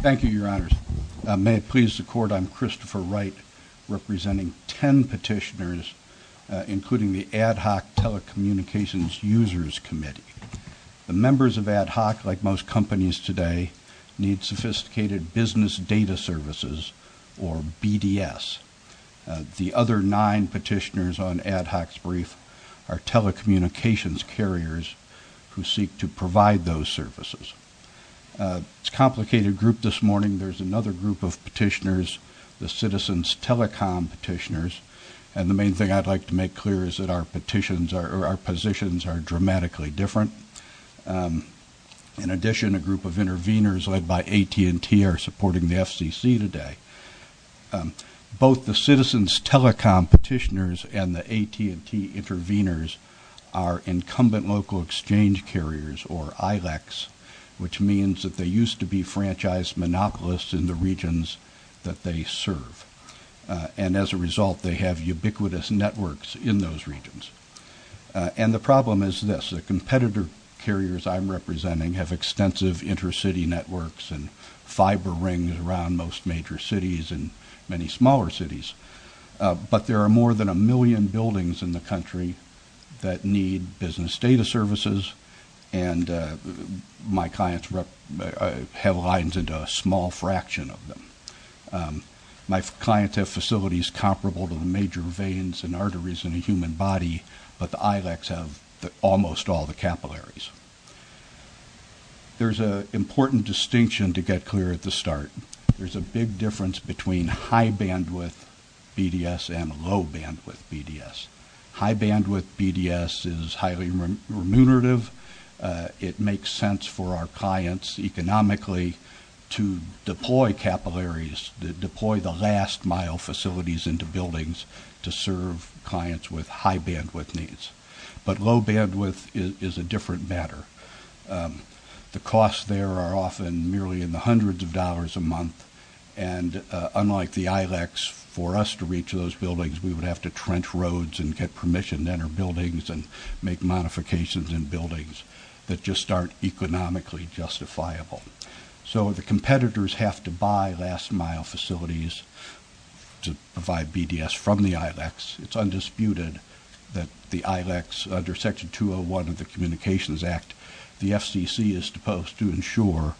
Thank you, Your Honors. May it please the Court, I'm Christopher Wright, representing ten petitioners, including the Ad Hoc Telecommunications Users Committee. The members of Ad Hoc, like most companies today, need sophisticated business data services, or BDS. The other nine petitioners on Ad Hoc's brief are telecommunications carriers who seek to provide those services. It's a complicated group this morning. There's another group of petitioners, the Citizens Telecom petitioners, and the main thing I'd like to make clear is that our positions are dramatically different. In addition, a group of intervenors led by AT&T are supporting the FCC today. Both the Citizens Telecom petitioners and the AT&T intervenors are incumbent local exchange carriers, or AT&T-franchised monopolists in the regions that they serve, and as a result they have ubiquitous networks in those regions. And the problem is this. The competitor carriers I'm representing have extensive intercity networks and fiber rings around most major cities and many smaller cities, but there are more than a million buildings in the country that need business data services, and my clients have facilities comparable to the major veins and arteries in the human body, but the ILACs have almost all the capillaries. There's an important distinction to get clear at the start. There's a big difference between high bandwidth BDS and low bandwidth BDS. High bandwidth BDS is highly remunerative. It makes sense for our clients economically to deploy capillaries, to deploy the last mile facilities into buildings to serve clients with high bandwidth needs, but low bandwidth is a different matter. The costs there are often merely in the hundreds of dollars a month, and unlike the ILACs, for us to reach those buildings we would have to trench roads and get permission to enter buildings and make modifications in buildings that just aren't economically justifiable. So the competitors have to buy last mile facilities to provide BDS from the ILACs. It's undisputed that the ILACs, under Section 201 of the Communications Act, the FCC is supposed to ensure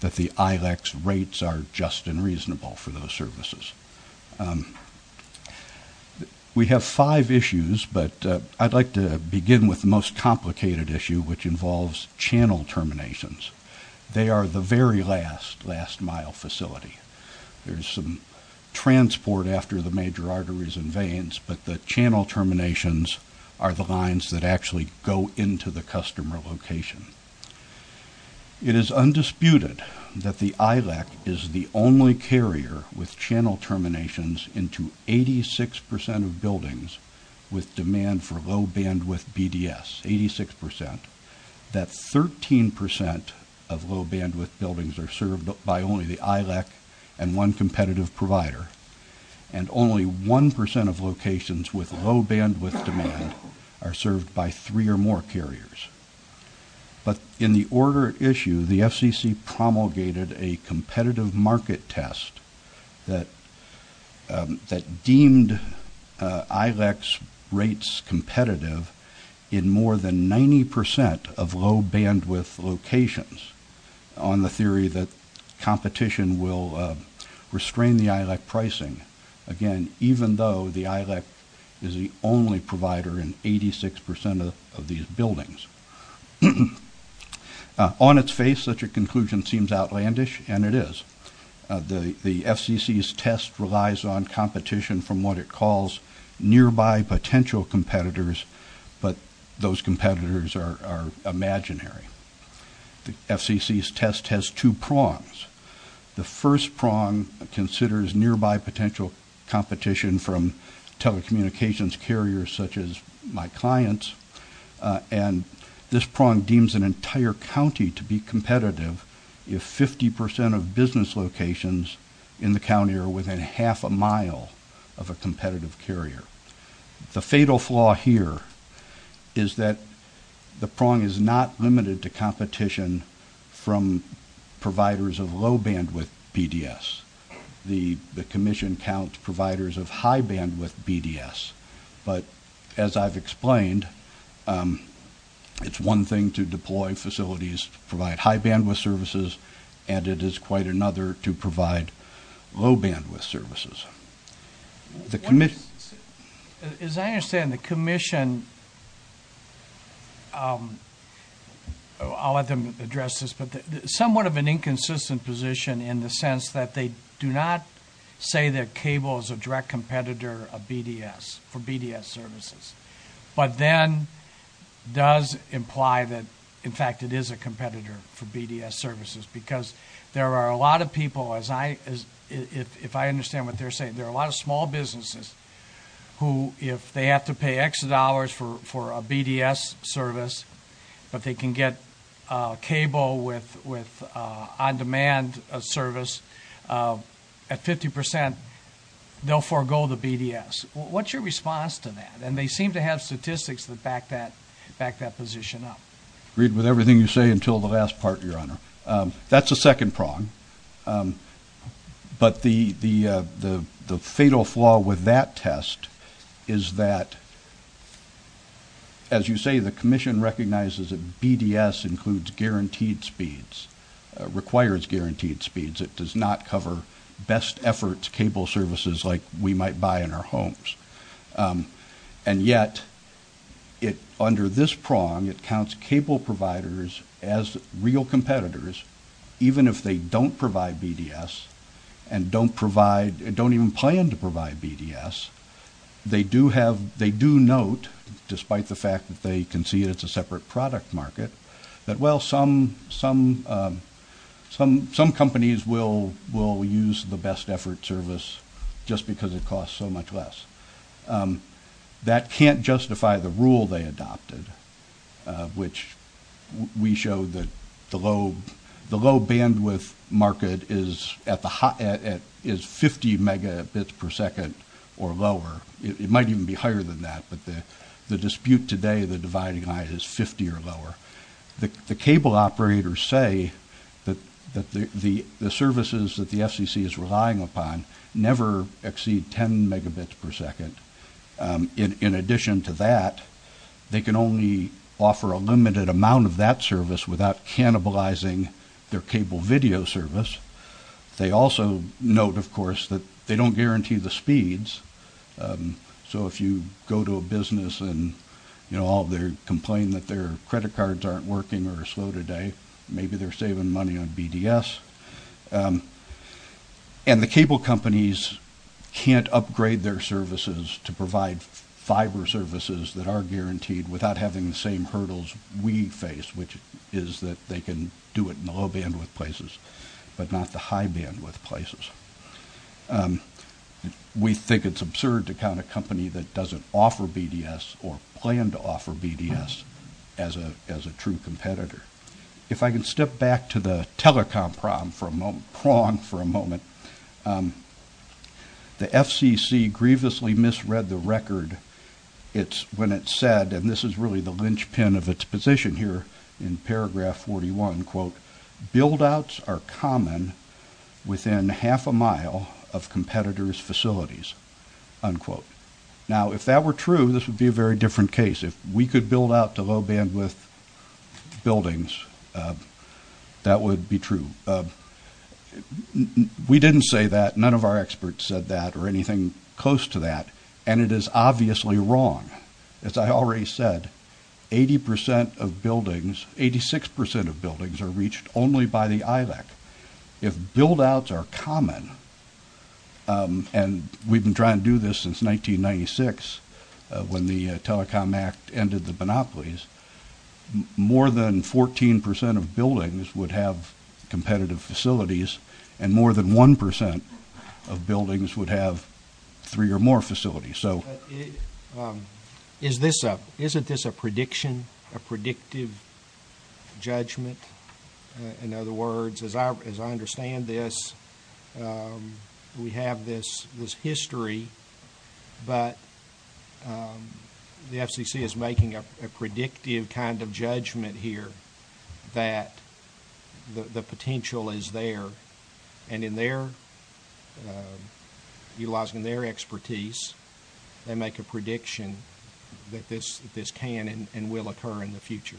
that the ILACs rates are just and reasonable for those services. We have five issues, but I'd like to begin with the most complicated issue, which involves channel terminations. They are the very last, last mile facility. There's some transport after the major arteries and veins, but the channel terminations are the lines that actually go into the customer location. It is undisputed that the ILAC is the only carrier with channel terminations into 86% of buildings with demand for low bandwidth BDS, 86%. That 13% of low bandwidth buildings are served by only the ILAC and one competitive provider, and only 1% of locations with low bandwidth demand are served by three or more carriers. But in the order at issue, the FCC promulgated a competitive market test that deemed ILACs rates competitive in more than 90% of low bandwidth locations on the theory that competition will restrain the ILAC buildings. On its face, such a conclusion seems outlandish, and it is. The FCC's test relies on competition from what it calls nearby potential competitors, but those competitors are imaginary. The FCC's test has two prongs. The first prong considers nearby potential competition from telecommunications carriers such as my clients, and this prong deems an entire county to be competitive if 50% of business locations in the county are within half a mile of a competitive carrier. The fatal flaw here is that the prong is not limited to competition from providers of low bandwidth BDS. The commission counts providers of high bandwidth services as competitors of BDS. It is one thing to deploy facilities to provide high bandwidth services, and it is quite another to provide low bandwidth services. As I understand, the commission, I'll let them address this, but somewhat of an inconsistent position in the sense that they do not say that cable is a direct competitor of BDS for BDS services, but then does imply that, in fact, it is a competitor for BDS services because there are a lot of people, as I, if I understand what they're saying, there are a lot of small businesses who, if they have to pay X dollars for a BDS service, but they can get cable with on-demand service, at 50% they'll forego the BDS. What's your response to that? And they seem to have statistics that back that position up. I agree with everything you say until the last part, your honor. That's a second prong, but the fatal flaw with that test is that, as you say, the commission recognizes that BDS includes guaranteed speeds, requires guaranteed speeds, it does not cover best efforts cable services like we might buy in our homes, and yet, under this prong, it counts cable providers as real competitors, even if they don't provide BDS and don't provide, don't even plan to provide BDS, they do have, they do note, despite the fact that they can see it's a separate product market, that well, some, some, some, some companies will, will use the best effort service just because it costs so much less. That can't justify the rule they adopted, which we showed that the low, the low bandwidth market is at the, is 50 megabits per second or lower. It might even be higher than that, but the dispute today, the dividing line is 50 or lower. The cable operators say that the services that the FCC is relying upon never exceed 10 megabits per second. In addition to that, they can only offer a limited amount of that service without cannibalizing their cable video service. They also note, of course, that they don't guarantee the speeds, so if you go to a business and, you know, all their, complain that their credit cards aren't working or slow today, maybe they're saving money on BDS, and the cable companies can't upgrade their services to provide fiber services that are guaranteed without having the same hurdles we face, which is that they can do it in the low bandwidth places, but not the high bandwidth places. We think it's absurd to count a company that doesn't offer BDS or plan to offer BDS as a, as a true competitor. If I can step back to the telecom problem for a moment, prong for a moment, the FCC grievously misread the record. It's, when it said, and this is really the linchpin of its position here in paragraph 41, quote, buildouts are common within half a mile of competitors facilities, unquote. Now, if that were true, this would be a very different case. If we could build out to low bandwidth buildings, that would be true. We didn't say that, none of our experts said that, or anything close to that, and it is obviously wrong. As I already said, eighty percent of buildings, eighty-six percent of buildings, are reached only by the ILEC. If buildouts are common, and we've been trying to do this since 1996, when the Telecom Act ended the monopolies, more than fourteen percent of buildings would have competitive facilities, and more than one percent of buildings would have three or more facilities. Is this a, isn't this a prediction, a predictive judgment? In other words, as I understand this, we have this history, but the FCC is making a predictive kind of judgment. Utilizing their expertise, they make a prediction that this can and will occur in the future.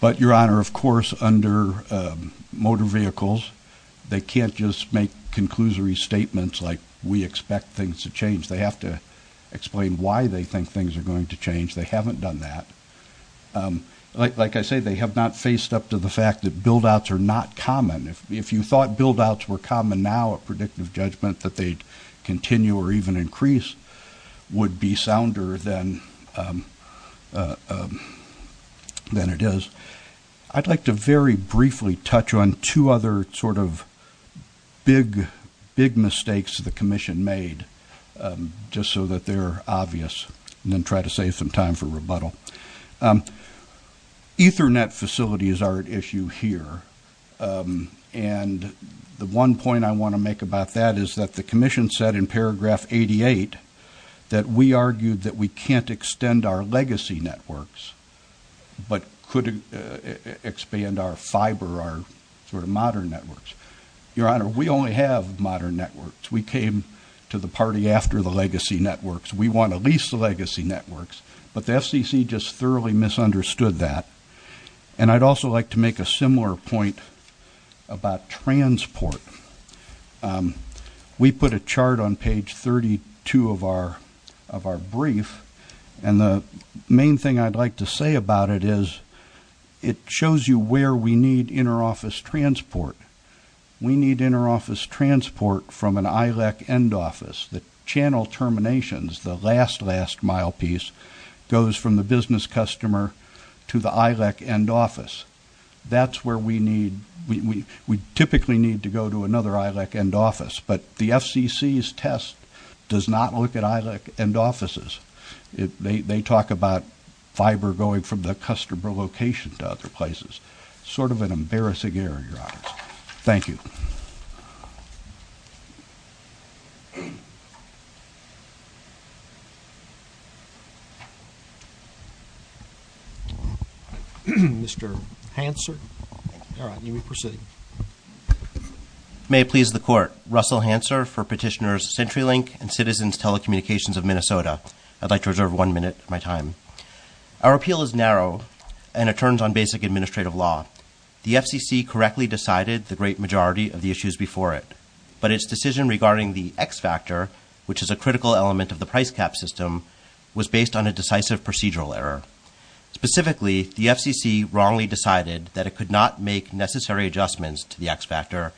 But your honor, of course, under motor vehicles, they can't just make conclusory statements like, we expect things to change. They have to explain why they think things are going to change. They haven't done that. Like I say, they have not faced up to the fact that buildouts are not common. If you thought buildouts were common now, a predictive judgment that they'd continue or even increase would be sounder than it is. I'd like to very briefly touch on two other sort of big, big mistakes the Commission made, just so that they're obvious, and then try to save some time for rebuttal. Ethernet facilities are an important part of this. The one point I want to make about that is that the Commission said in paragraph 88 that we argued that we can't extend our legacy networks, but could expand our fiber, our sort of modern networks. Your honor, we only have modern networks. We came to the party after the legacy networks. We want at least the legacy networks, but the FCC just thoroughly misunderstood that. And I'd also like to make a similar point about transport. We put a chart on page 32 of our of our brief, and the main thing I'd like to say about it is it shows you where we need interoffice transport. We need interoffice transport from an ILEC end office. The channel terminations, the last last mile piece, goes from the business customer to the ILEC end office. That's where we need, we typically need to go to another ILEC end office, but the FCC's test does not look at ILEC end offices. They talk about fiber going from the customer location to other places. Sort of an embarrassing error, your honor. Thank you. Mr. Hanser. All right, you may proceed. May it please the court, Russell Hanser for petitioners CenturyLink and Citizens Telecommunications of Minnesota. I'd like to reserve one minute of my time. Our appeal is narrow, and it turns on basic administrative law. The FCC correctly decided the great majority of the issues before it, but its decision regarding the X factor, which is a critical element of the price cap system, was based on a decisive procedural error. Specifically, the FCC wrongly decided that it could not make necessary adjustments to the X factor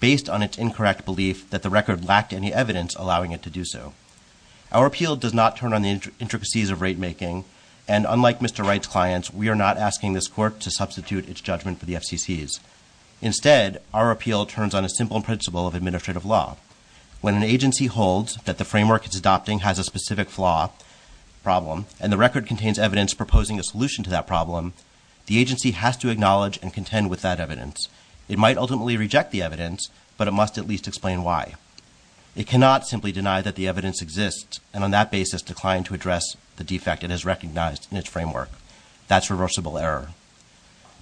based on its incorrect belief that the record lacked any evidence allowing it to do so. Our appeal does not turn on the intricacies of rate making, and unlike Mr. Wright's clients, we are not asking this court to substitute its judgment for the FCC's. Instead, our appeal turns on a simple principle of a specific flaw problem, and the record contains evidence proposing a solution to that problem. The agency has to acknowledge and contend with that evidence. It might ultimately reject the evidence, but it must at least explain why. It cannot simply deny that the evidence exists, and on that basis decline to address the defect it has recognized in its framework. That's reversible error.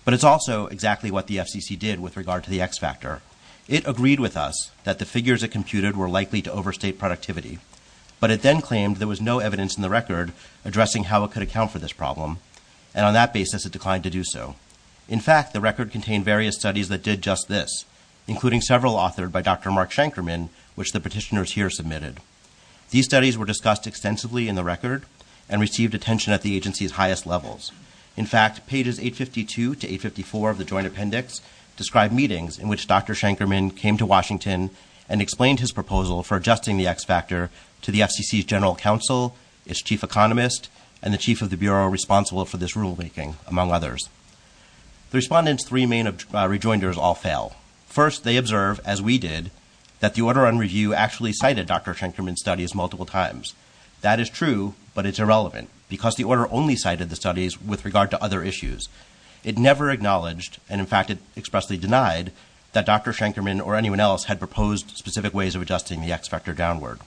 But it's also exactly what the FCC did with regard to the X factor. It agreed with us that the figures it computed were likely to the record, and on that basis it declined to do so. In fact, the record contained various studies that did just this, including several authored by Dr. Mark Shankerman, which the petitioners here submitted. These studies were discussed extensively in the record, and received attention at the agency's highest levels. In fact, pages 852 to 854 of the joint appendix describe meetings in which Dr. Shankerman came to Washington and explained his proposal for federal counsel, its chief economist, and the chief of the bureau responsible for this rulemaking, among others. The respondents' three main rejoinders all fail. First, they observe, as we did, that the order on review actually cited Dr. Shankerman's studies multiple times. That is true, but it's irrelevant, because the order only cited the studies with regard to other issues. It never acknowledged, and in fact it expressly denied, that Dr. Shankerman or anyone else had proposed specific ways of adjusting the X factor downward.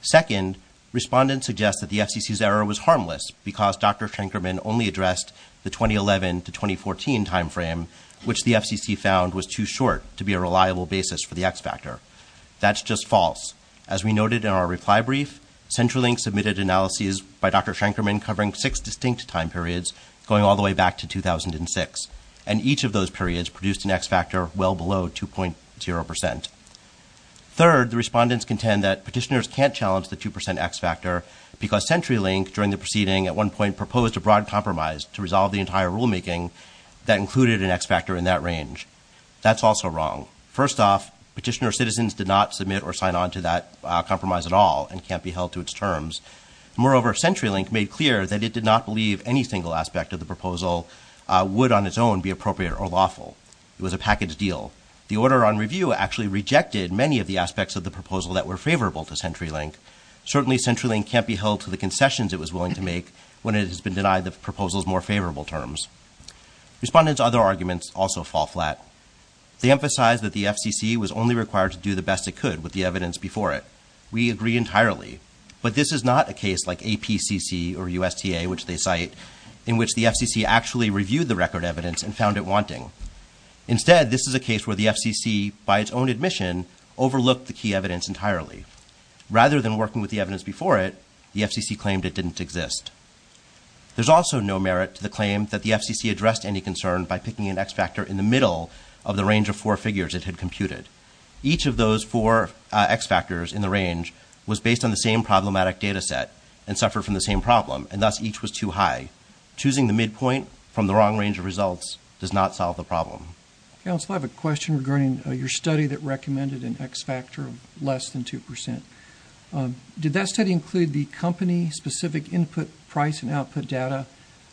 Second, respondents suggest that the FCC's error was harmless, because Dr. Shankerman only addressed the 2011 to 2014 time frame, which the FCC found was too short to be a reliable basis for the X factor. That's just false. As we noted in our reply brief, Centralink submitted analyses by Dr. Shankerman covering six distinct time periods, going all the way back to 2006, and each of those periods produced an X factor well below 2.0%. Third, the respondents contend that petitioners can't challenge the 2% X factor, because Centralink, during the proceeding, at one point proposed a broad compromise to resolve the entire rulemaking that included an X factor in that range. That's also wrong. First off, petitioner citizens did not submit or sign on to that compromise at all, and can't be held to its terms. Moreover, Centralink made clear that it did not believe any single aspect of the proposal would, on its own, be appropriate or lawful. It was a package deal. The order on review actually rejected many of the aspects of the proposal that were favorable to Centralink. Certainly, Centralink can't be held to the concessions it was willing to make when it has been denied the proposal's more favorable terms. Respondents' other arguments also fall flat. They emphasize that the FCC was only required to do the best it could with the evidence before it. We agree entirely, but this is not a case like APCC or USTA, which they cite, in which the FCC actually reviewed the record evidence and found it wanting. Instead, this is a case where the FCC, by its own admission, overlooked the key evidence entirely. Rather than working with the evidence before it, the FCC claimed it didn't exist. There's also no merit to the claim that the FCC addressed any concern by picking an X factor in the middle of the range of four figures it had computed. Each of those four X factors in the range was based on the same problematic data set, and suffered from the same problem, and thus each was too high. Choosing the midpoint from the wrong range of results does not solve the problem. Counsel, I have a question regarding your study that recommended an X factor of less than 2%. Did that study include the company-specific input, price, and output data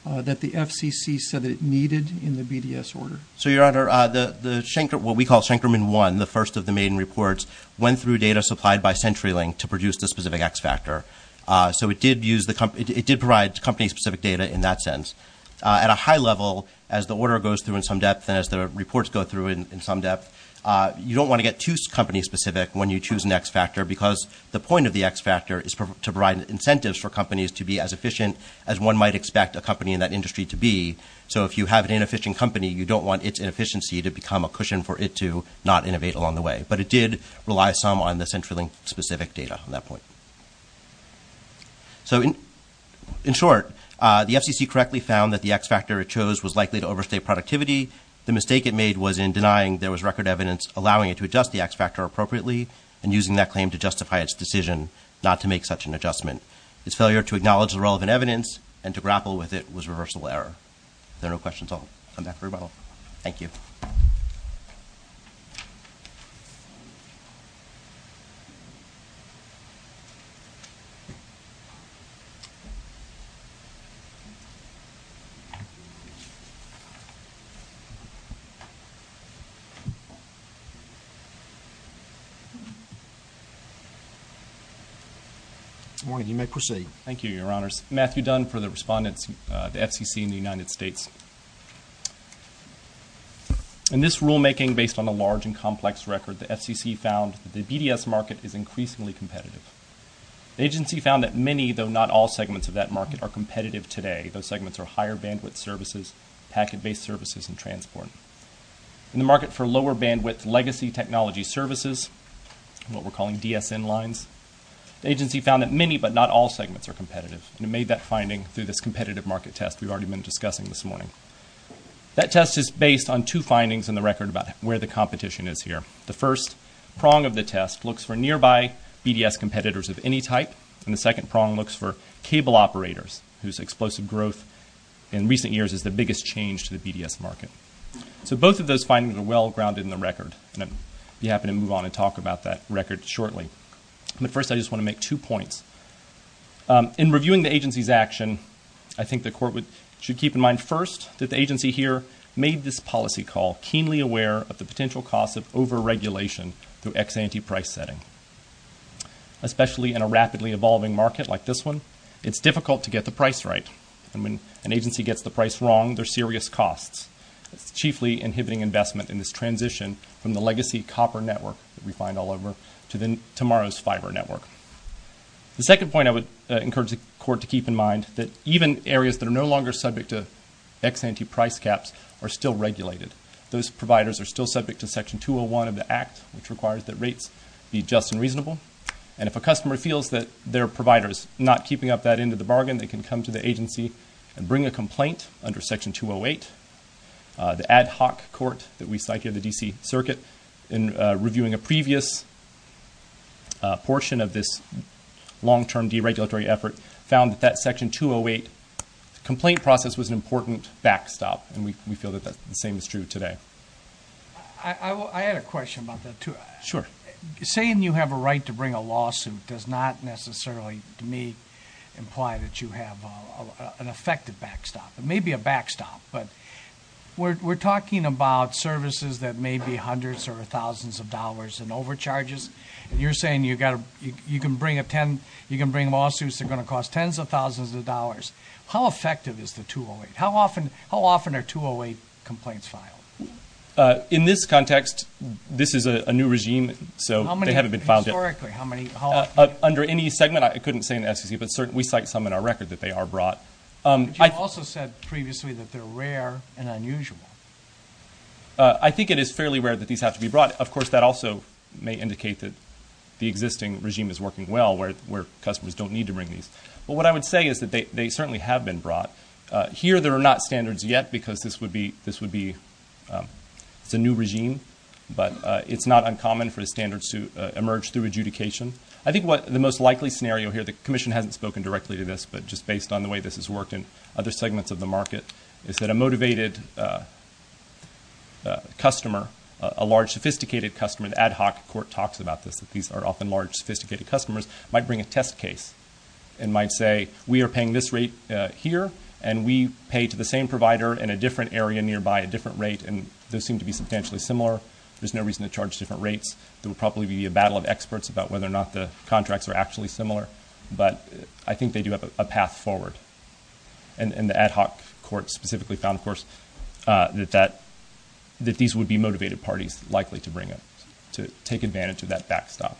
that the FCC said it needed in the BDS order? So, Your Honor, what we call Shankerman 1, the first of the maiden reports, went through data supplied by Centralink to produce the specific X data in that sense. At a high level, as the order goes through in some depth, and as the reports go through in some depth, you don't want to get too company specific when you choose an X factor, because the point of the X factor is to provide incentives for companies to be as efficient as one might expect a company in that industry to be. So if you have an inefficient company, you don't want its inefficiency to become a cushion for it to not innovate along the way. But it did rely some on the Centralink-specific data on that point. So, in short, the FCC correctly found that the X factor it chose was likely to overstay productivity. The mistake it made was in denying there was record evidence allowing it to adjust the X factor appropriately and using that claim to justify its decision not to make such an adjustment. Its failure to acknowledge the relevant evidence and to grapple with it was a reversal error. If there are no questions, I'll come back for rebuttal. Thank you. Good morning. You may proceed. Thank you, Your Honors. Matthew Dunn for the respondents, the FCC, and the United States. In this rulemaking based on a large and complex record, the FCC found the BDS market is increasingly competitive. The agency found that many, though not all, segments of that market are competitive today. Those segments are higher bandwidth services, packet-based services, and transport. In the market for lower bandwidth legacy technology services, what we're calling DSN lines, the agency found that many but not all segments are competitive and made that finding through this competitive market test we've already been discussing this morning. That test is based on two findings in the record about where the competition is here. The first prong of the test looks for nearby BDS competitors of any type, and the second prong looks for cable operators whose explosive growth in recent years is the biggest change to the BDS market. So both of those findings are well-grounded in the record, and I'll be happy to move on and talk about that record shortly. But first, I just want to make two points. In reviewing the agency's action, I think the Court should keep in mind first that the agency here made this policy call keenly aware of the potential costs of over-regulation through ex-ante price setting. Especially in a rapidly evolving market like this one, it's difficult to get the price right, and when an agency gets the price wrong, there's serious costs. That's chiefly inhibiting investment in this transition from the legacy copper network that we find all over to tomorrow's fiber network. The second point I would encourage the Court to keep in mind that even areas that are no longer subject to ex-ante price caps are still regulated. Those providers are still subject to Section 201 of the Act, which requires that rates be just and reasonable. And if a customer feels that their provider is not keeping up that end of the bargain, they can come to the agency and bring a complaint under Section 208. The ad hoc court that we cite here, the D.C. Circuit, in reviewing a previous portion of this long-term deregulatory effort, found that that Section 208 complaint process was an important backstop, and we feel that the same is true today. I had a question about that too. Sure. Saying you have a right to bring a lawsuit does not necessarily, to me, imply that you have an effective backstop. It may be a backstop, but we're talking about services that may be hundreds or thousands of dollars in overcharges, and you're saying you can bring lawsuits that are going to cost tens of thousands of dollars. How effective is the 208? How often are 208 complaints filed? In this context, this is a new regime, so they haven't been found yet. Historically, how many? Under any segment, I couldn't say in the SEC, but we cite some in our record that they are brought. But you also said previously that they're rare and unusual. I think it is fairly rare that these have to be brought. Of course, that also may indicate that the existing regime is working well, where customers don't need to bring these. But what I would say is that they certainly have been brought. Here, there are not standards yet, because this is a new regime, but it's not uncommon for the standards to emerge through adjudication. I think the most likely scenario here, the Commission hasn't spoken directly to this, but just based on the way this has worked in other segments of the market, is that a motivated customer, a large, sophisticated customer, the ad hoc court talks about this, that these are often large, sophisticated customers, might bring a test case and might say, we are paying this rate here, and we pay to the same provider in a different area nearby a different rate, and those seem to be substantially similar. There's no reason to charge different rates. There will probably be a battle of experts about whether or not the contracts are actually similar, but I think they do have a path forward. And the ad hoc court specifically found, of course, that these would be motivated parties likely to bring it, to take advantage of that backstop.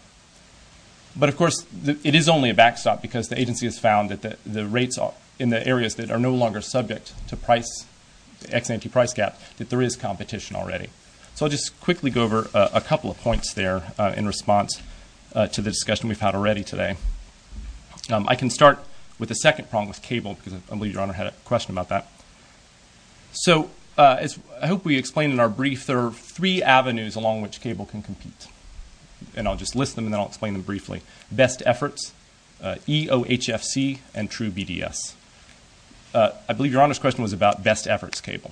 But of course, it is only a backstop because the agency has found that the rates in the areas that are no longer subject to price, the ex ante price gap, that there is competition already. So I'll just quickly go over a couple of points there in response to the discussion we've had already today. I can start with the second prong with cable, because I believe Your Honor had a question about that. So I hope we explained in our brief, there are three avenues along which cable can compete. And I'll just list them, and then I'll explain them EOHFC and TrueBDS. I believe Your Honor's question was about Best Efforts Cable.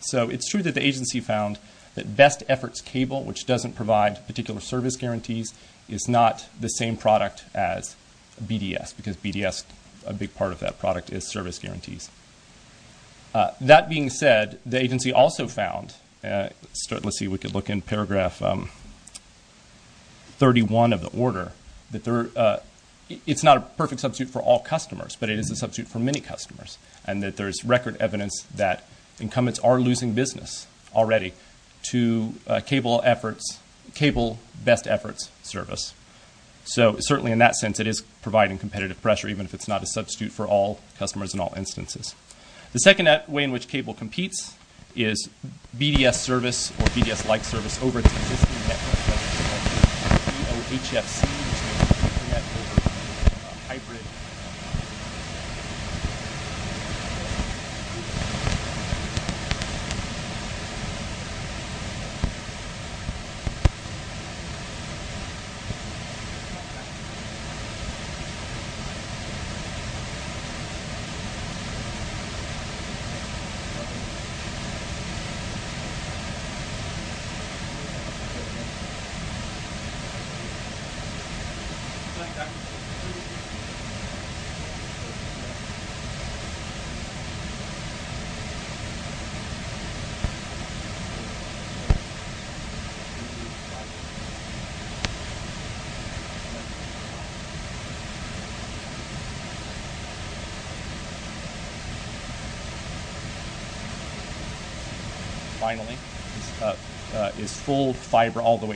So it's true that the agency found that Best Efforts Cable, which doesn't provide particular service guarantees, is not the same product as BDS, because BDS, a big part of that product is service guarantees. That being said, the agency also found... Let's see, we could look in 31 of the order, that it's not a perfect substitute for all customers, but it is a substitute for many customers, and that there's record evidence that incumbents are losing business already to cable best efforts service. So certainly in that sense, it is providing competitive pressure, even if it's not a substitute for all customers in all instances. The second way in which cable competes is BDS service or BDS-like service over its existing network, which is EOHFC, which is a hybrid.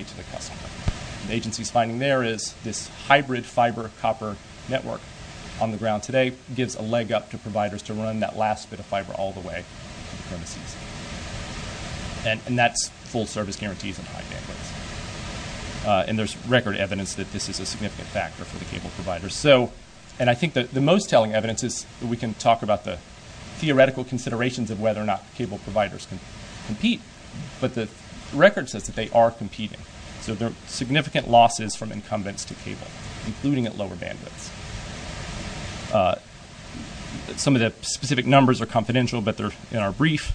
to the customer. The agency's finding there is this hybrid fiber copper network on the ground today gives a leg up to providers to run that last bit of fiber all the way to the premises, and that's full service guarantees and high bandwidths. And there's record evidence that this is a significant factor for the cable providers. And I think the most telling evidence is that we can talk about the theoretical considerations of whether or not cable providers can compete, but the record says that they are competing. So there are significant losses from incumbents to cable, including at lower bandwidths. Some of the specific numbers are confidential, but they're in our brief,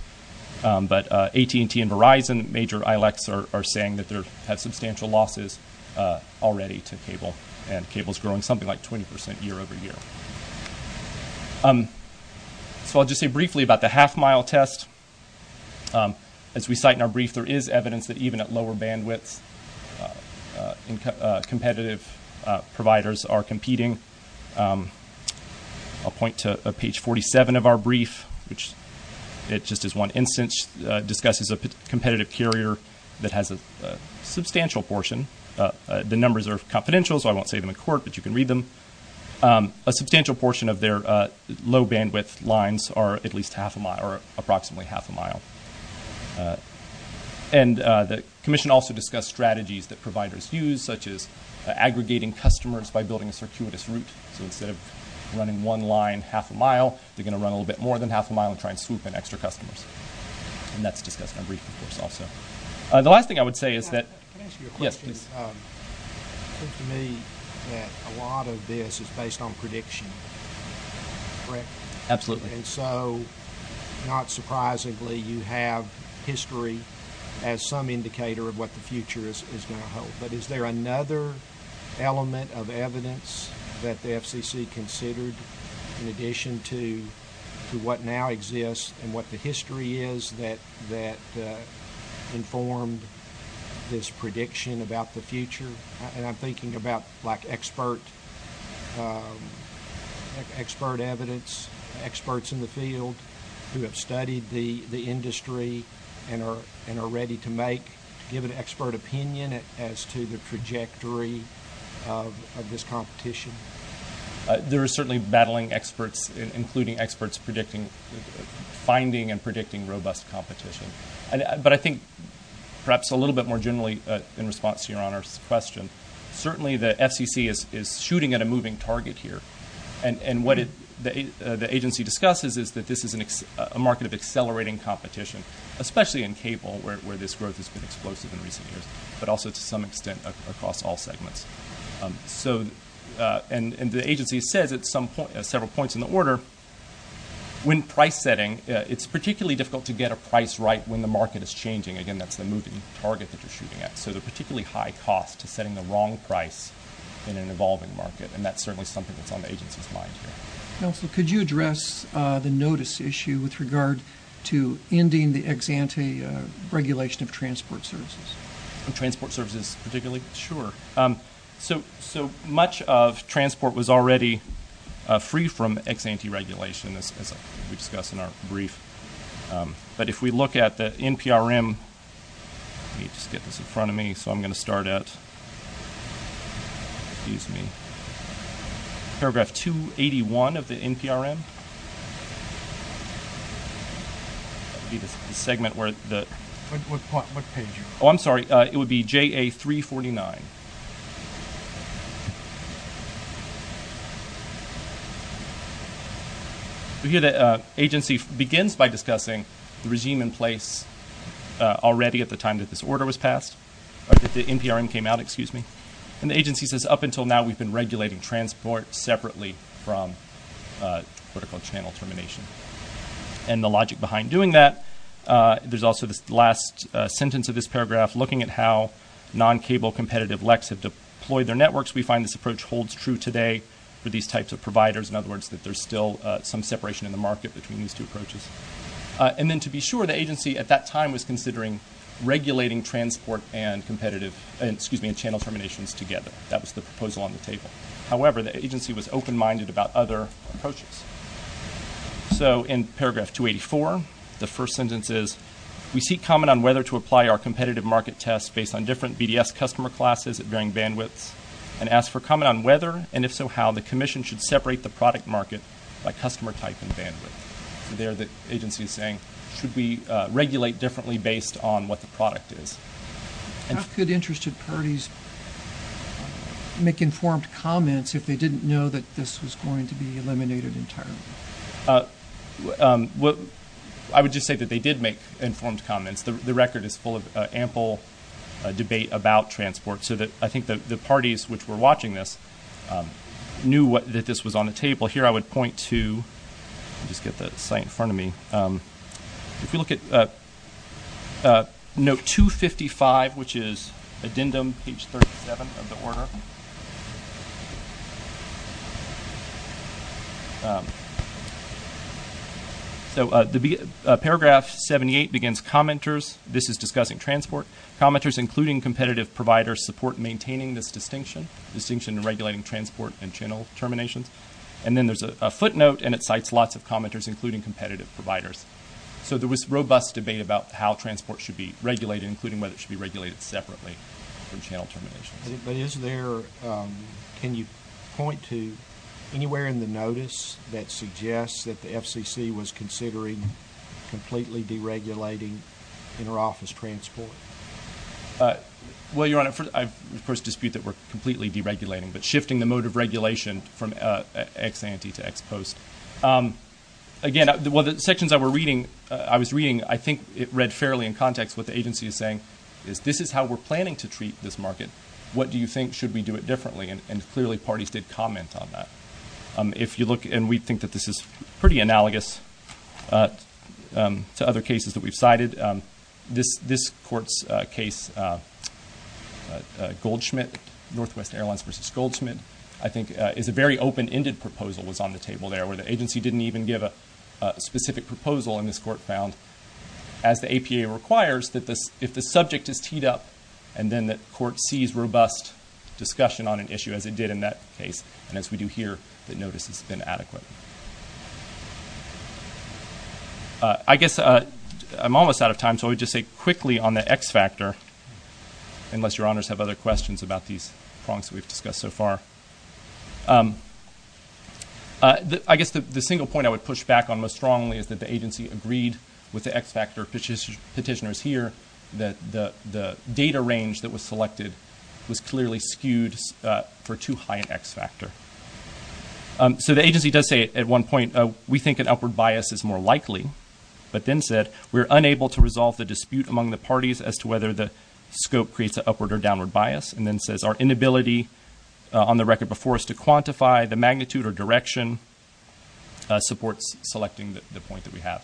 but AT&T and Verizon, major ILACs are saying that they have substantial losses already to cable, and cable's growing something like 20% year over year. So I'll just say briefly about the half mile test. As we cite in our brief, there is evidence that even at lower bandwidths, competitive providers are competing. I'll point to page 47 of our brief, which it just is one instance, discusses a competitive carrier that has a substantial portion. The numbers are confidential, so I won't say them in court, but you can read them. A substantial portion of their low bandwidth is only half a mile. And the commission also discussed strategies that providers use, such as aggregating customers by building a circuitous route. So instead of running one line half a mile, they're gonna run a little bit more than half a mile and try and swoop in extra customers. And that's discussed in our brief, of course, also. The last thing I would say is that... Can I ask you a question? Yes, please. It seems to me that a lot of this is based on prediction, correct? Absolutely. And so, not surprisingly, you have history as some indicator of what the future is gonna hold. But is there another element of evidence that the FCC considered in addition to what now exists and what the history is that informed this prediction about the future? And I'm thinking about expert evidence, experts in the field who have studied the industry and are ready to make... Give an expert opinion as to the trajectory of this competition. There are certainly battling experts, including experts finding and predicting robust competition. But I think to answer John's question, certainly the FCC is shooting at a moving target here. And what the agency discusses is that this is a market of accelerating competition, especially in cable, where this growth has been explosive in recent years, but also to some extent across all segments. And the agency says at several points in the order, when price setting, it's particularly difficult to get a price right when the market is changing. Again, that's the moving target that you're shooting at. So the particularly high cost to setting the wrong price in an evolving market, and that's certainly something that's on the agency's mind here. Counselor, could you address the notice issue with regard to ending the ex ante regulation of transport services? Transport services particularly? Sure. So much of transport was already free from ex ante regulation, as we discussed in our brief. But if we look at the NPRM... Let me just get this in front of me. So I'm gonna start at... Excuse me. Paragraph 281 of the NPRM. That would be the segment where the... What page are you... Oh, I'm sorry. It would be JA349. We hear that agency begins by discussing the regime in place already at the time that this order was passed, or that the NPRM came out, excuse me. And the agency says, up until now, we've been regulating transport separately from vertical channel termination. And the logic behind doing that, there's also this last sentence of this paragraph, looking at how non cable competitive LECs have deployed their networks. We find this approach holds true today for these types of providers. In other words, that there's still some separation in the market between these two approaches. And then to be sure, the agency at that time was considering regulating transport and competitive... Excuse me, and channel terminations together. That was the proposal on the table. However, the agency was open minded about other approaches. So in paragraph 284, the first sentence is, we seek comment on whether to apply our competitive market test based on different BDS customer classes at varying bandwidths, and ask for comment on whether, and if so, how the commission should separate the product market by customer type and bandwidth. There the agency is saying, should we regulate differently based on what the product is? How could interested parties make informed comments if they didn't know that this was going to be eliminated entirely? I would just say that they did make informed comments. The record is full of ample debate about transport, so that I think the parties which were watching this knew that this was on the table. Page 37 of the order. So paragraph 78 begins, commenters, this is discussing transport. Commenters, including competitive providers, support maintaining this distinction, distinction regulating transport and channel terminations. And then there's a footnote, and it cites lots of commenters, including competitive providers. So there was robust debate about how transport should be regulated, including whether it should be regulated separately from channel terminations. But is there... Can you point to anywhere in the notice that suggests that the FCC was considering completely deregulating inter office transport? Well, Your Honor, I, of course, dispute that we're completely deregulating, but shifting the mode of regulation from ex ante to ex post. Again, well, the sections I was reading, I think it read fairly in context what the agency is saying, is this is how we're planning to treat this market. What do you think? Should we do it differently? And clearly, parties did comment on that. If you look... And we think that this is pretty analogous to other cases that we've cited. This court's case, Goldschmidt, Northwest Airlines versus Goldschmidt, I think is a very open ended proposal was on the table there, where the agency didn't even give a specific proposal, and this court found, as the APA requires, that if the subject is teed up, and then the court sees robust discussion on an issue, as it did in that case, and as we do here, that notice has been adequate. I guess I'm almost out of time, so I would just say quickly on the X factor, unless Your Honors have other questions about these prongs that we've discussed so far. I guess the single point I would push back on most strongly is that the agency agreed with the X factor petitioners here, that the data range that was selected was clearly skewed for too high an X factor. So the agency does say at one point, we think an upward bias is more likely, but then said, we're unable to resolve the dispute among the parties as to whether the scope creates an upward or downward bias, and then says, our inability on the record before us to quantify the magnitude or direction supports selecting the point that we have.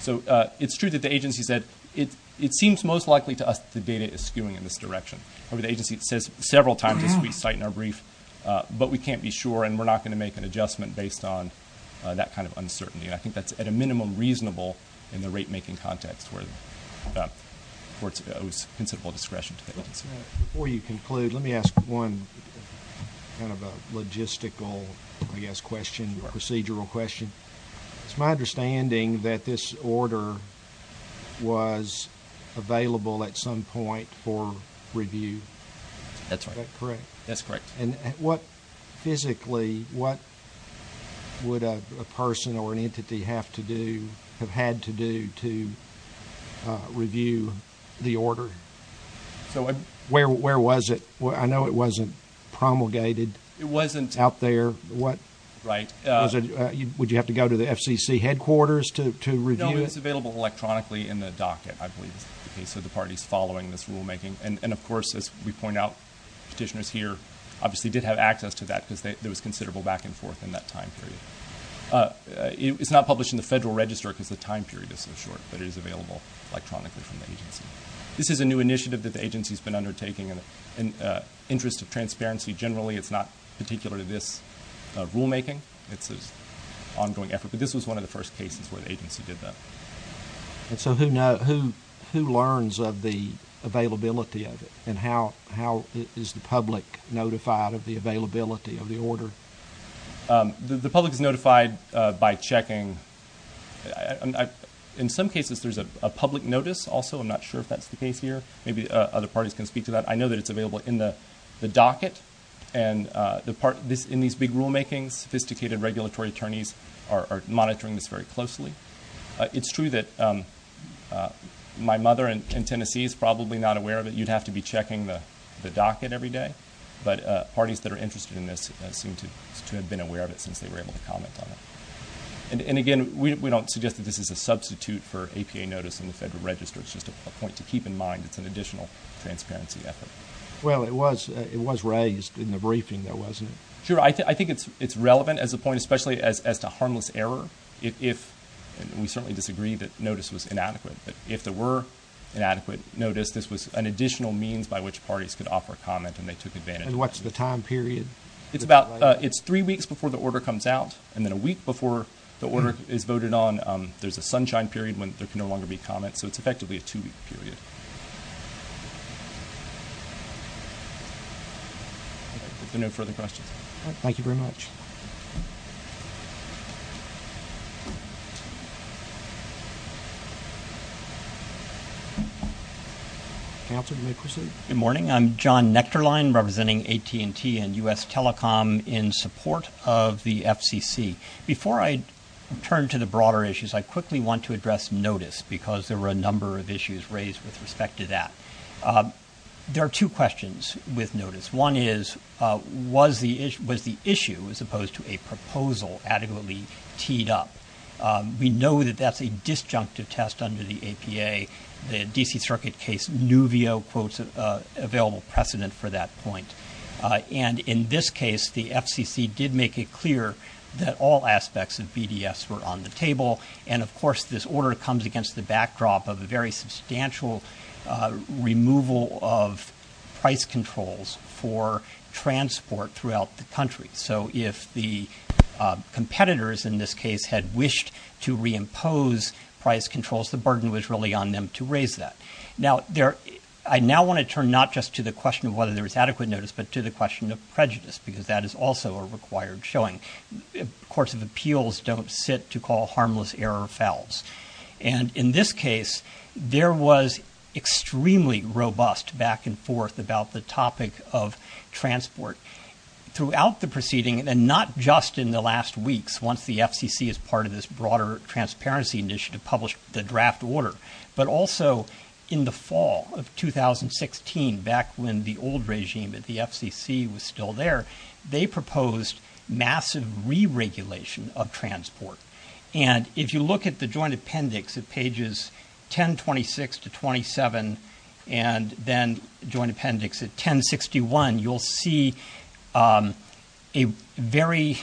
So it's true that the agency said, it seems most likely to us that the data is skewing in this direction. However, the agency says several times as we cite in our brief, but we can't be sure, and we're not gonna make an adjustment based on that kind of uncertainty, and I think that's at a minimum reasonable in the rate making context where the court owes considerable discretion to the agency. Before you conclude, let me ask one kind of a logistical, I guess, question or procedural question. It's my understanding that this order was available at some point for review. That's right. Is that correct? That's correct. And physically, what would a person or an entity have to do, have had to do to review the order? Where was it? I know it wasn't promulgated... It wasn't... Out there. What... Right. Would you have to go to the FCC headquarters to review it? No, it was available electronically in the docket, I believe is the case of the parties following this rule making. And of course, as we point out, petitioners here obviously did have access to that, because there was considerable back and forth in that time period. It's not published in the Federal Register because the time period is so short, but it is available electronically from the agency. This is a new initiative that the agency has been undertaking. In the interest of transparency generally, it's not particular to this rule making. It's an ongoing effort, but this was one of the first cases where the agency did that. And so who learns of the availability of it, and how is the order? The public is notified by checking... In some cases, there's a public notice also. I'm not sure if that's the case here. Maybe other parties can speak to that. I know that it's available in the docket, and in these big rule makings, sophisticated regulatory attorneys are monitoring this very closely. It's true that my mother in Tennessee is probably not aware of it. You'd have to be checking the docket every day, but parties that are interested in this seem to have been aware of it since they were able to comment on it. And again, we don't suggest that this is a substitute for APA notice in the Federal Register. It's just a point to keep in mind. It's an additional transparency effort. Well, it was raised in the briefing there, wasn't it? Sure. I think it's relevant as a point, especially as to harmless error. We certainly disagree that notice was inadequate, but if there were inadequate notice, this was an additional means by which parties could offer comment, and they took advantage of it. And what's the time period? It's about... It's three weeks before the order comes out, and then a week before the order is voted on, there's a sunshine period when there can no longer be comment. So it's effectively a two week period. If there are no further questions. Thank you very much. Councilor, you may proceed. Good morning. I'm John Nectarline, representing AT&T and US Telecom in support of the FCC. Before I turn to the broader issues, I quickly want to address notice, because there were a number of issues raised with respect to that. There are two questions with notice. One is, was the issue, as opposed to a proposal, adequately teed up? We know that that's a disjunctive test under the APA, the DC Circuit case, Nuvio quotes available precedent for that point. And in this case, the FCC did make it clear that all aspects of BDS were on the table. And of course, this order comes against the backdrop of a very substantial removal of price controls for transport throughout the country. So if the competitors, in this case, had wished to reimpose price controls, the burden was really on them to raise that. Now, I now wanna turn not just to the question of whether there was adequate notice, but to the question of prejudice, because that is also a required showing. Courts of Appeals don't sit to call harmless error fouls. And in this case, there was extremely robust back and forth about the topic of transport throughout the proceeding, and not just in the last weeks, once the FCC as part of this broader transparency initiative published the draft order, but also in the fall of 2016, back when the old regime at the FCC was still there, they proposed massive re regulation of transport. And if you look at the joint appendix at pages 1026 to 27, and then joint appendix at 1061, you'll see a very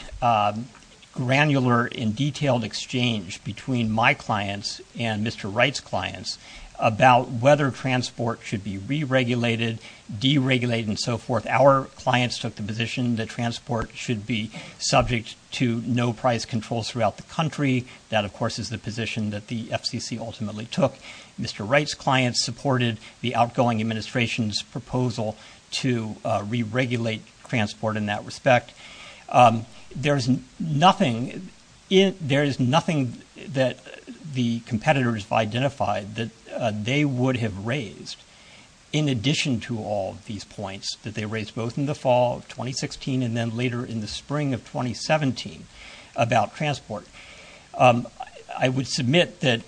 granular and detailed exchange between my clients and Mr. Wright's clients about whether transport should be re regulated, deregulated and so forth. Our clients took the position that transport should be subject to no price controls throughout the country. That, of course, is the position that the FCC ultimately took. Mr. Wright's clients supported the outgoing administration's proposal to re regulate transport in that respect. There is nothing that the competitors have identified that they would have raised, in addition to all of these points that they raised both in the fall of 2016, and then later in the spring of 2017 about transport. I would submit that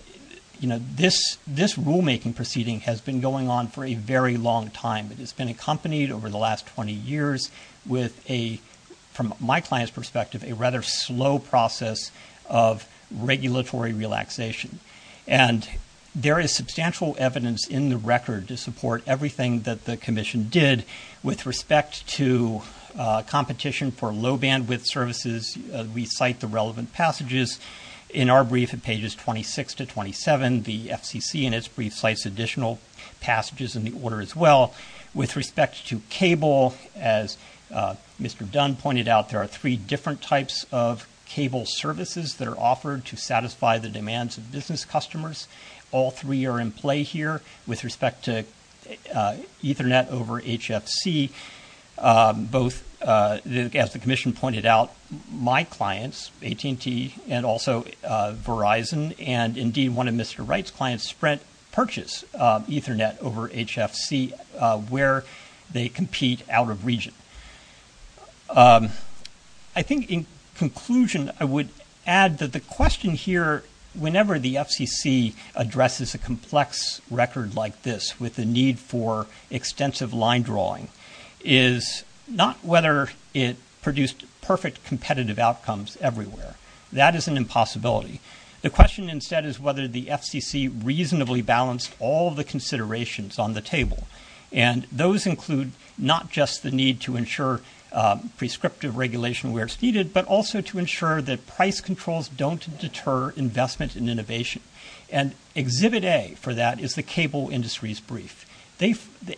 this rule making proceeding has been going on for a very long time. It has been accompanied over the last 20 years with a, from my client's perspective, a rather slow process of regulatory relaxation. And there is substantial evidence in the record to support everything that the Commission did with respect to competition for low bandwidth services. We cite the relevant passages in our brief at pages 26 to 27. The FCC, in its brief, cites additional passages in the order as well. With respect to cable, as Mr. Dunn pointed out, there are three different types of cable services that are offered to satisfy the demands of business customers. All three are in play here. With respect to Ethernet over HFC, both, as the Commission pointed out, my clients, AT&T and also Verizon, and indeed one of Mr. Wright's clients, Sprint, purchase Ethernet over HFC where they compete out of region. I think in conclusion, I would add that the question here, whenever the FCC addresses a complex record like this with the need for extensive line drawing, is not whether it produced perfect competitive outcomes everywhere. That is an impossibility. The question instead is whether the FCC reasonably balanced all the considerations on the table. And those include not just the need to ensure prescriptive regulation where it's needed, but also to ensure that price controls don't deter investment in innovation. And Exhibit A for that is the cable industry's brief.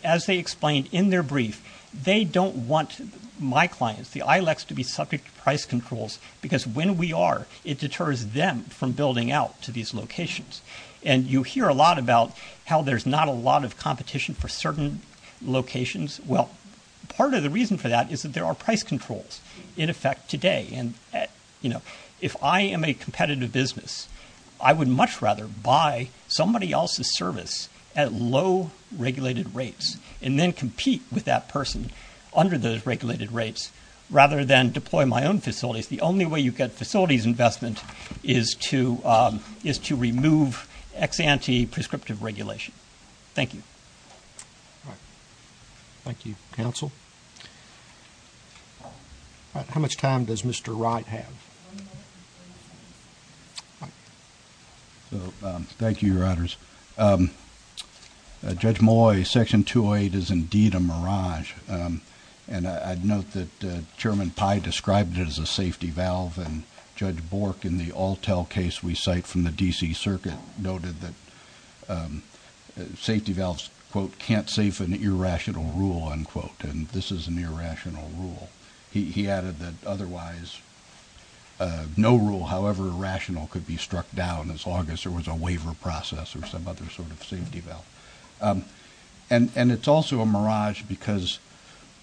As they explained in their brief, they don't want my clients, the ILECs, to be subject to price controls because when we are, it deters them from building out to these locations. And you hear a lot about how there's not a lot of competition for certain locations. Well, part of the reason for that is that there are price controls in effect today. And if I am a competitive business, I would much rather buy somebody else's service at low regulated rates and then compete with that person under those regulated rates rather than deploy my own facilities. The only way you get facilities investment is to remove ex-ante prescriptive regulation. Thank you. Thank you, counsel. How much time does Mr. Wright have? Thank you, Your Honors. Judge Moy, Section 208 is indeed a mirage. And I'd note that Chairman Pai described it as a safety valve. And Judge Bork, in the Altel case we cite from the D.C. Circuit, noted that safety valves, quote, can't save an irrational rule, unquote. And this is an irrational rule. He added that otherwise no rule, however rational, could be struck down as long as there was a waiver process or some other sort of safety valve. And it's also a mirage because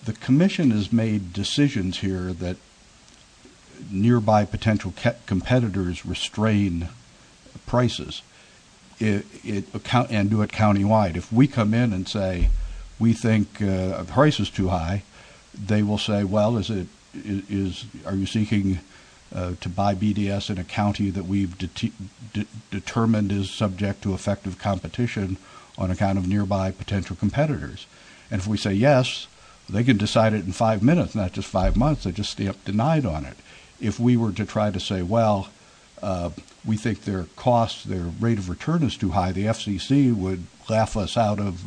the Commission has made decisions here that nearby potential competitors restrain prices and do it countywide. If we come in and say we think a price is too high, they will say, well, are you seeking to buy BDS in a county that we've determined is subject to effective competition on account of nearby potential competitors? And if we say yes, they can decide it in five minutes, not just five months, they just stay up to night on it. If we were to try to say, well, we think their cost, their rate of return is too high, the FCC would laugh us out of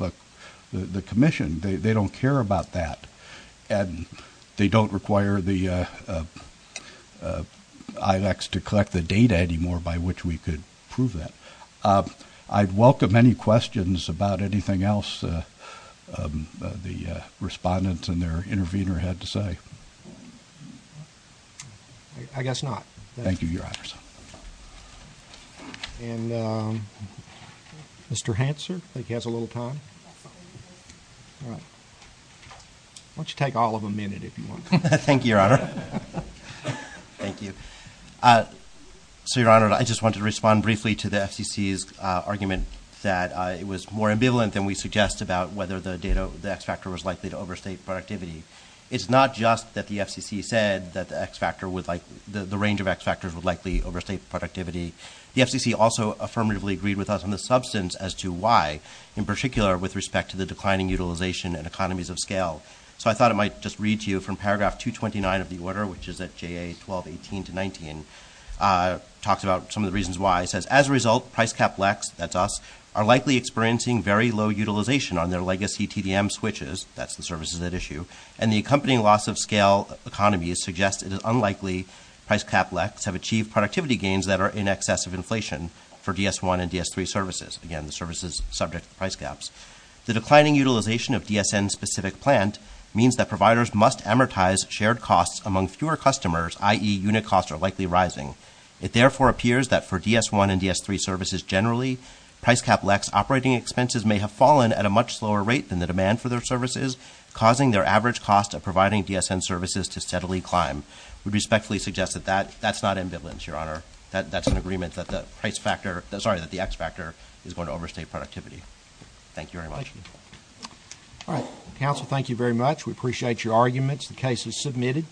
the Commission. They don't care about that. And they don't require the ILACs to collect the data anymore by which we could prove that. I'd welcome any questions about anything else the respondents and their intervener had to say. I guess not. Thank you, Your Honor. And Mr. Hansard, I think he has a little time. Why don't you take all of a minute if you want. Thank you, Your Honor. Thank you. So, Your Honor, I just want to respond briefly to the FCC's argument that it was more ambivalent than we suggest about whether the X factor was likely to overstate productivity. It's not just that the FCC said that the X factor would like, the range of X factors would likely overstate productivity. The FCC also affirmatively agreed with us on the substance as to why, in particular with respect to the declining utilization and economies of scale. So I thought it might just read to you from paragraph 229 of the order, which is at JA 1218-19, talks about some of the reasons why. It says, as a result, price cap LECs, that's us, are likely experiencing very low utilization on their legacy TDM switches, that's the services at issue, and the accompanying loss of scale economies suggest it is unlikely price cap LECs have achieved productivity gains that are in excess of inflation for DS-1 and DS-3 services. Again, the service is subject to price gaps. The declining utilization of DSN-specific plant means that providers must amortize shared costs among fewer customers, i.e., unit costs are likely rising. It therefore appears that for DS-1 and DS-3 services generally, price cap LECs operating expenses may have fallen at a much slower rate than the demand for their services, causing their average cost of providing DSN services to steadily climb. We respectfully suggest that that's not ambivalence, Your Honor. That's an agreement that the price factor, sorry, that the X factor is going to overstate productivity. Thank you very much. All right. Counsel, thank you very much. We appreciate your arguments. The case is submitted.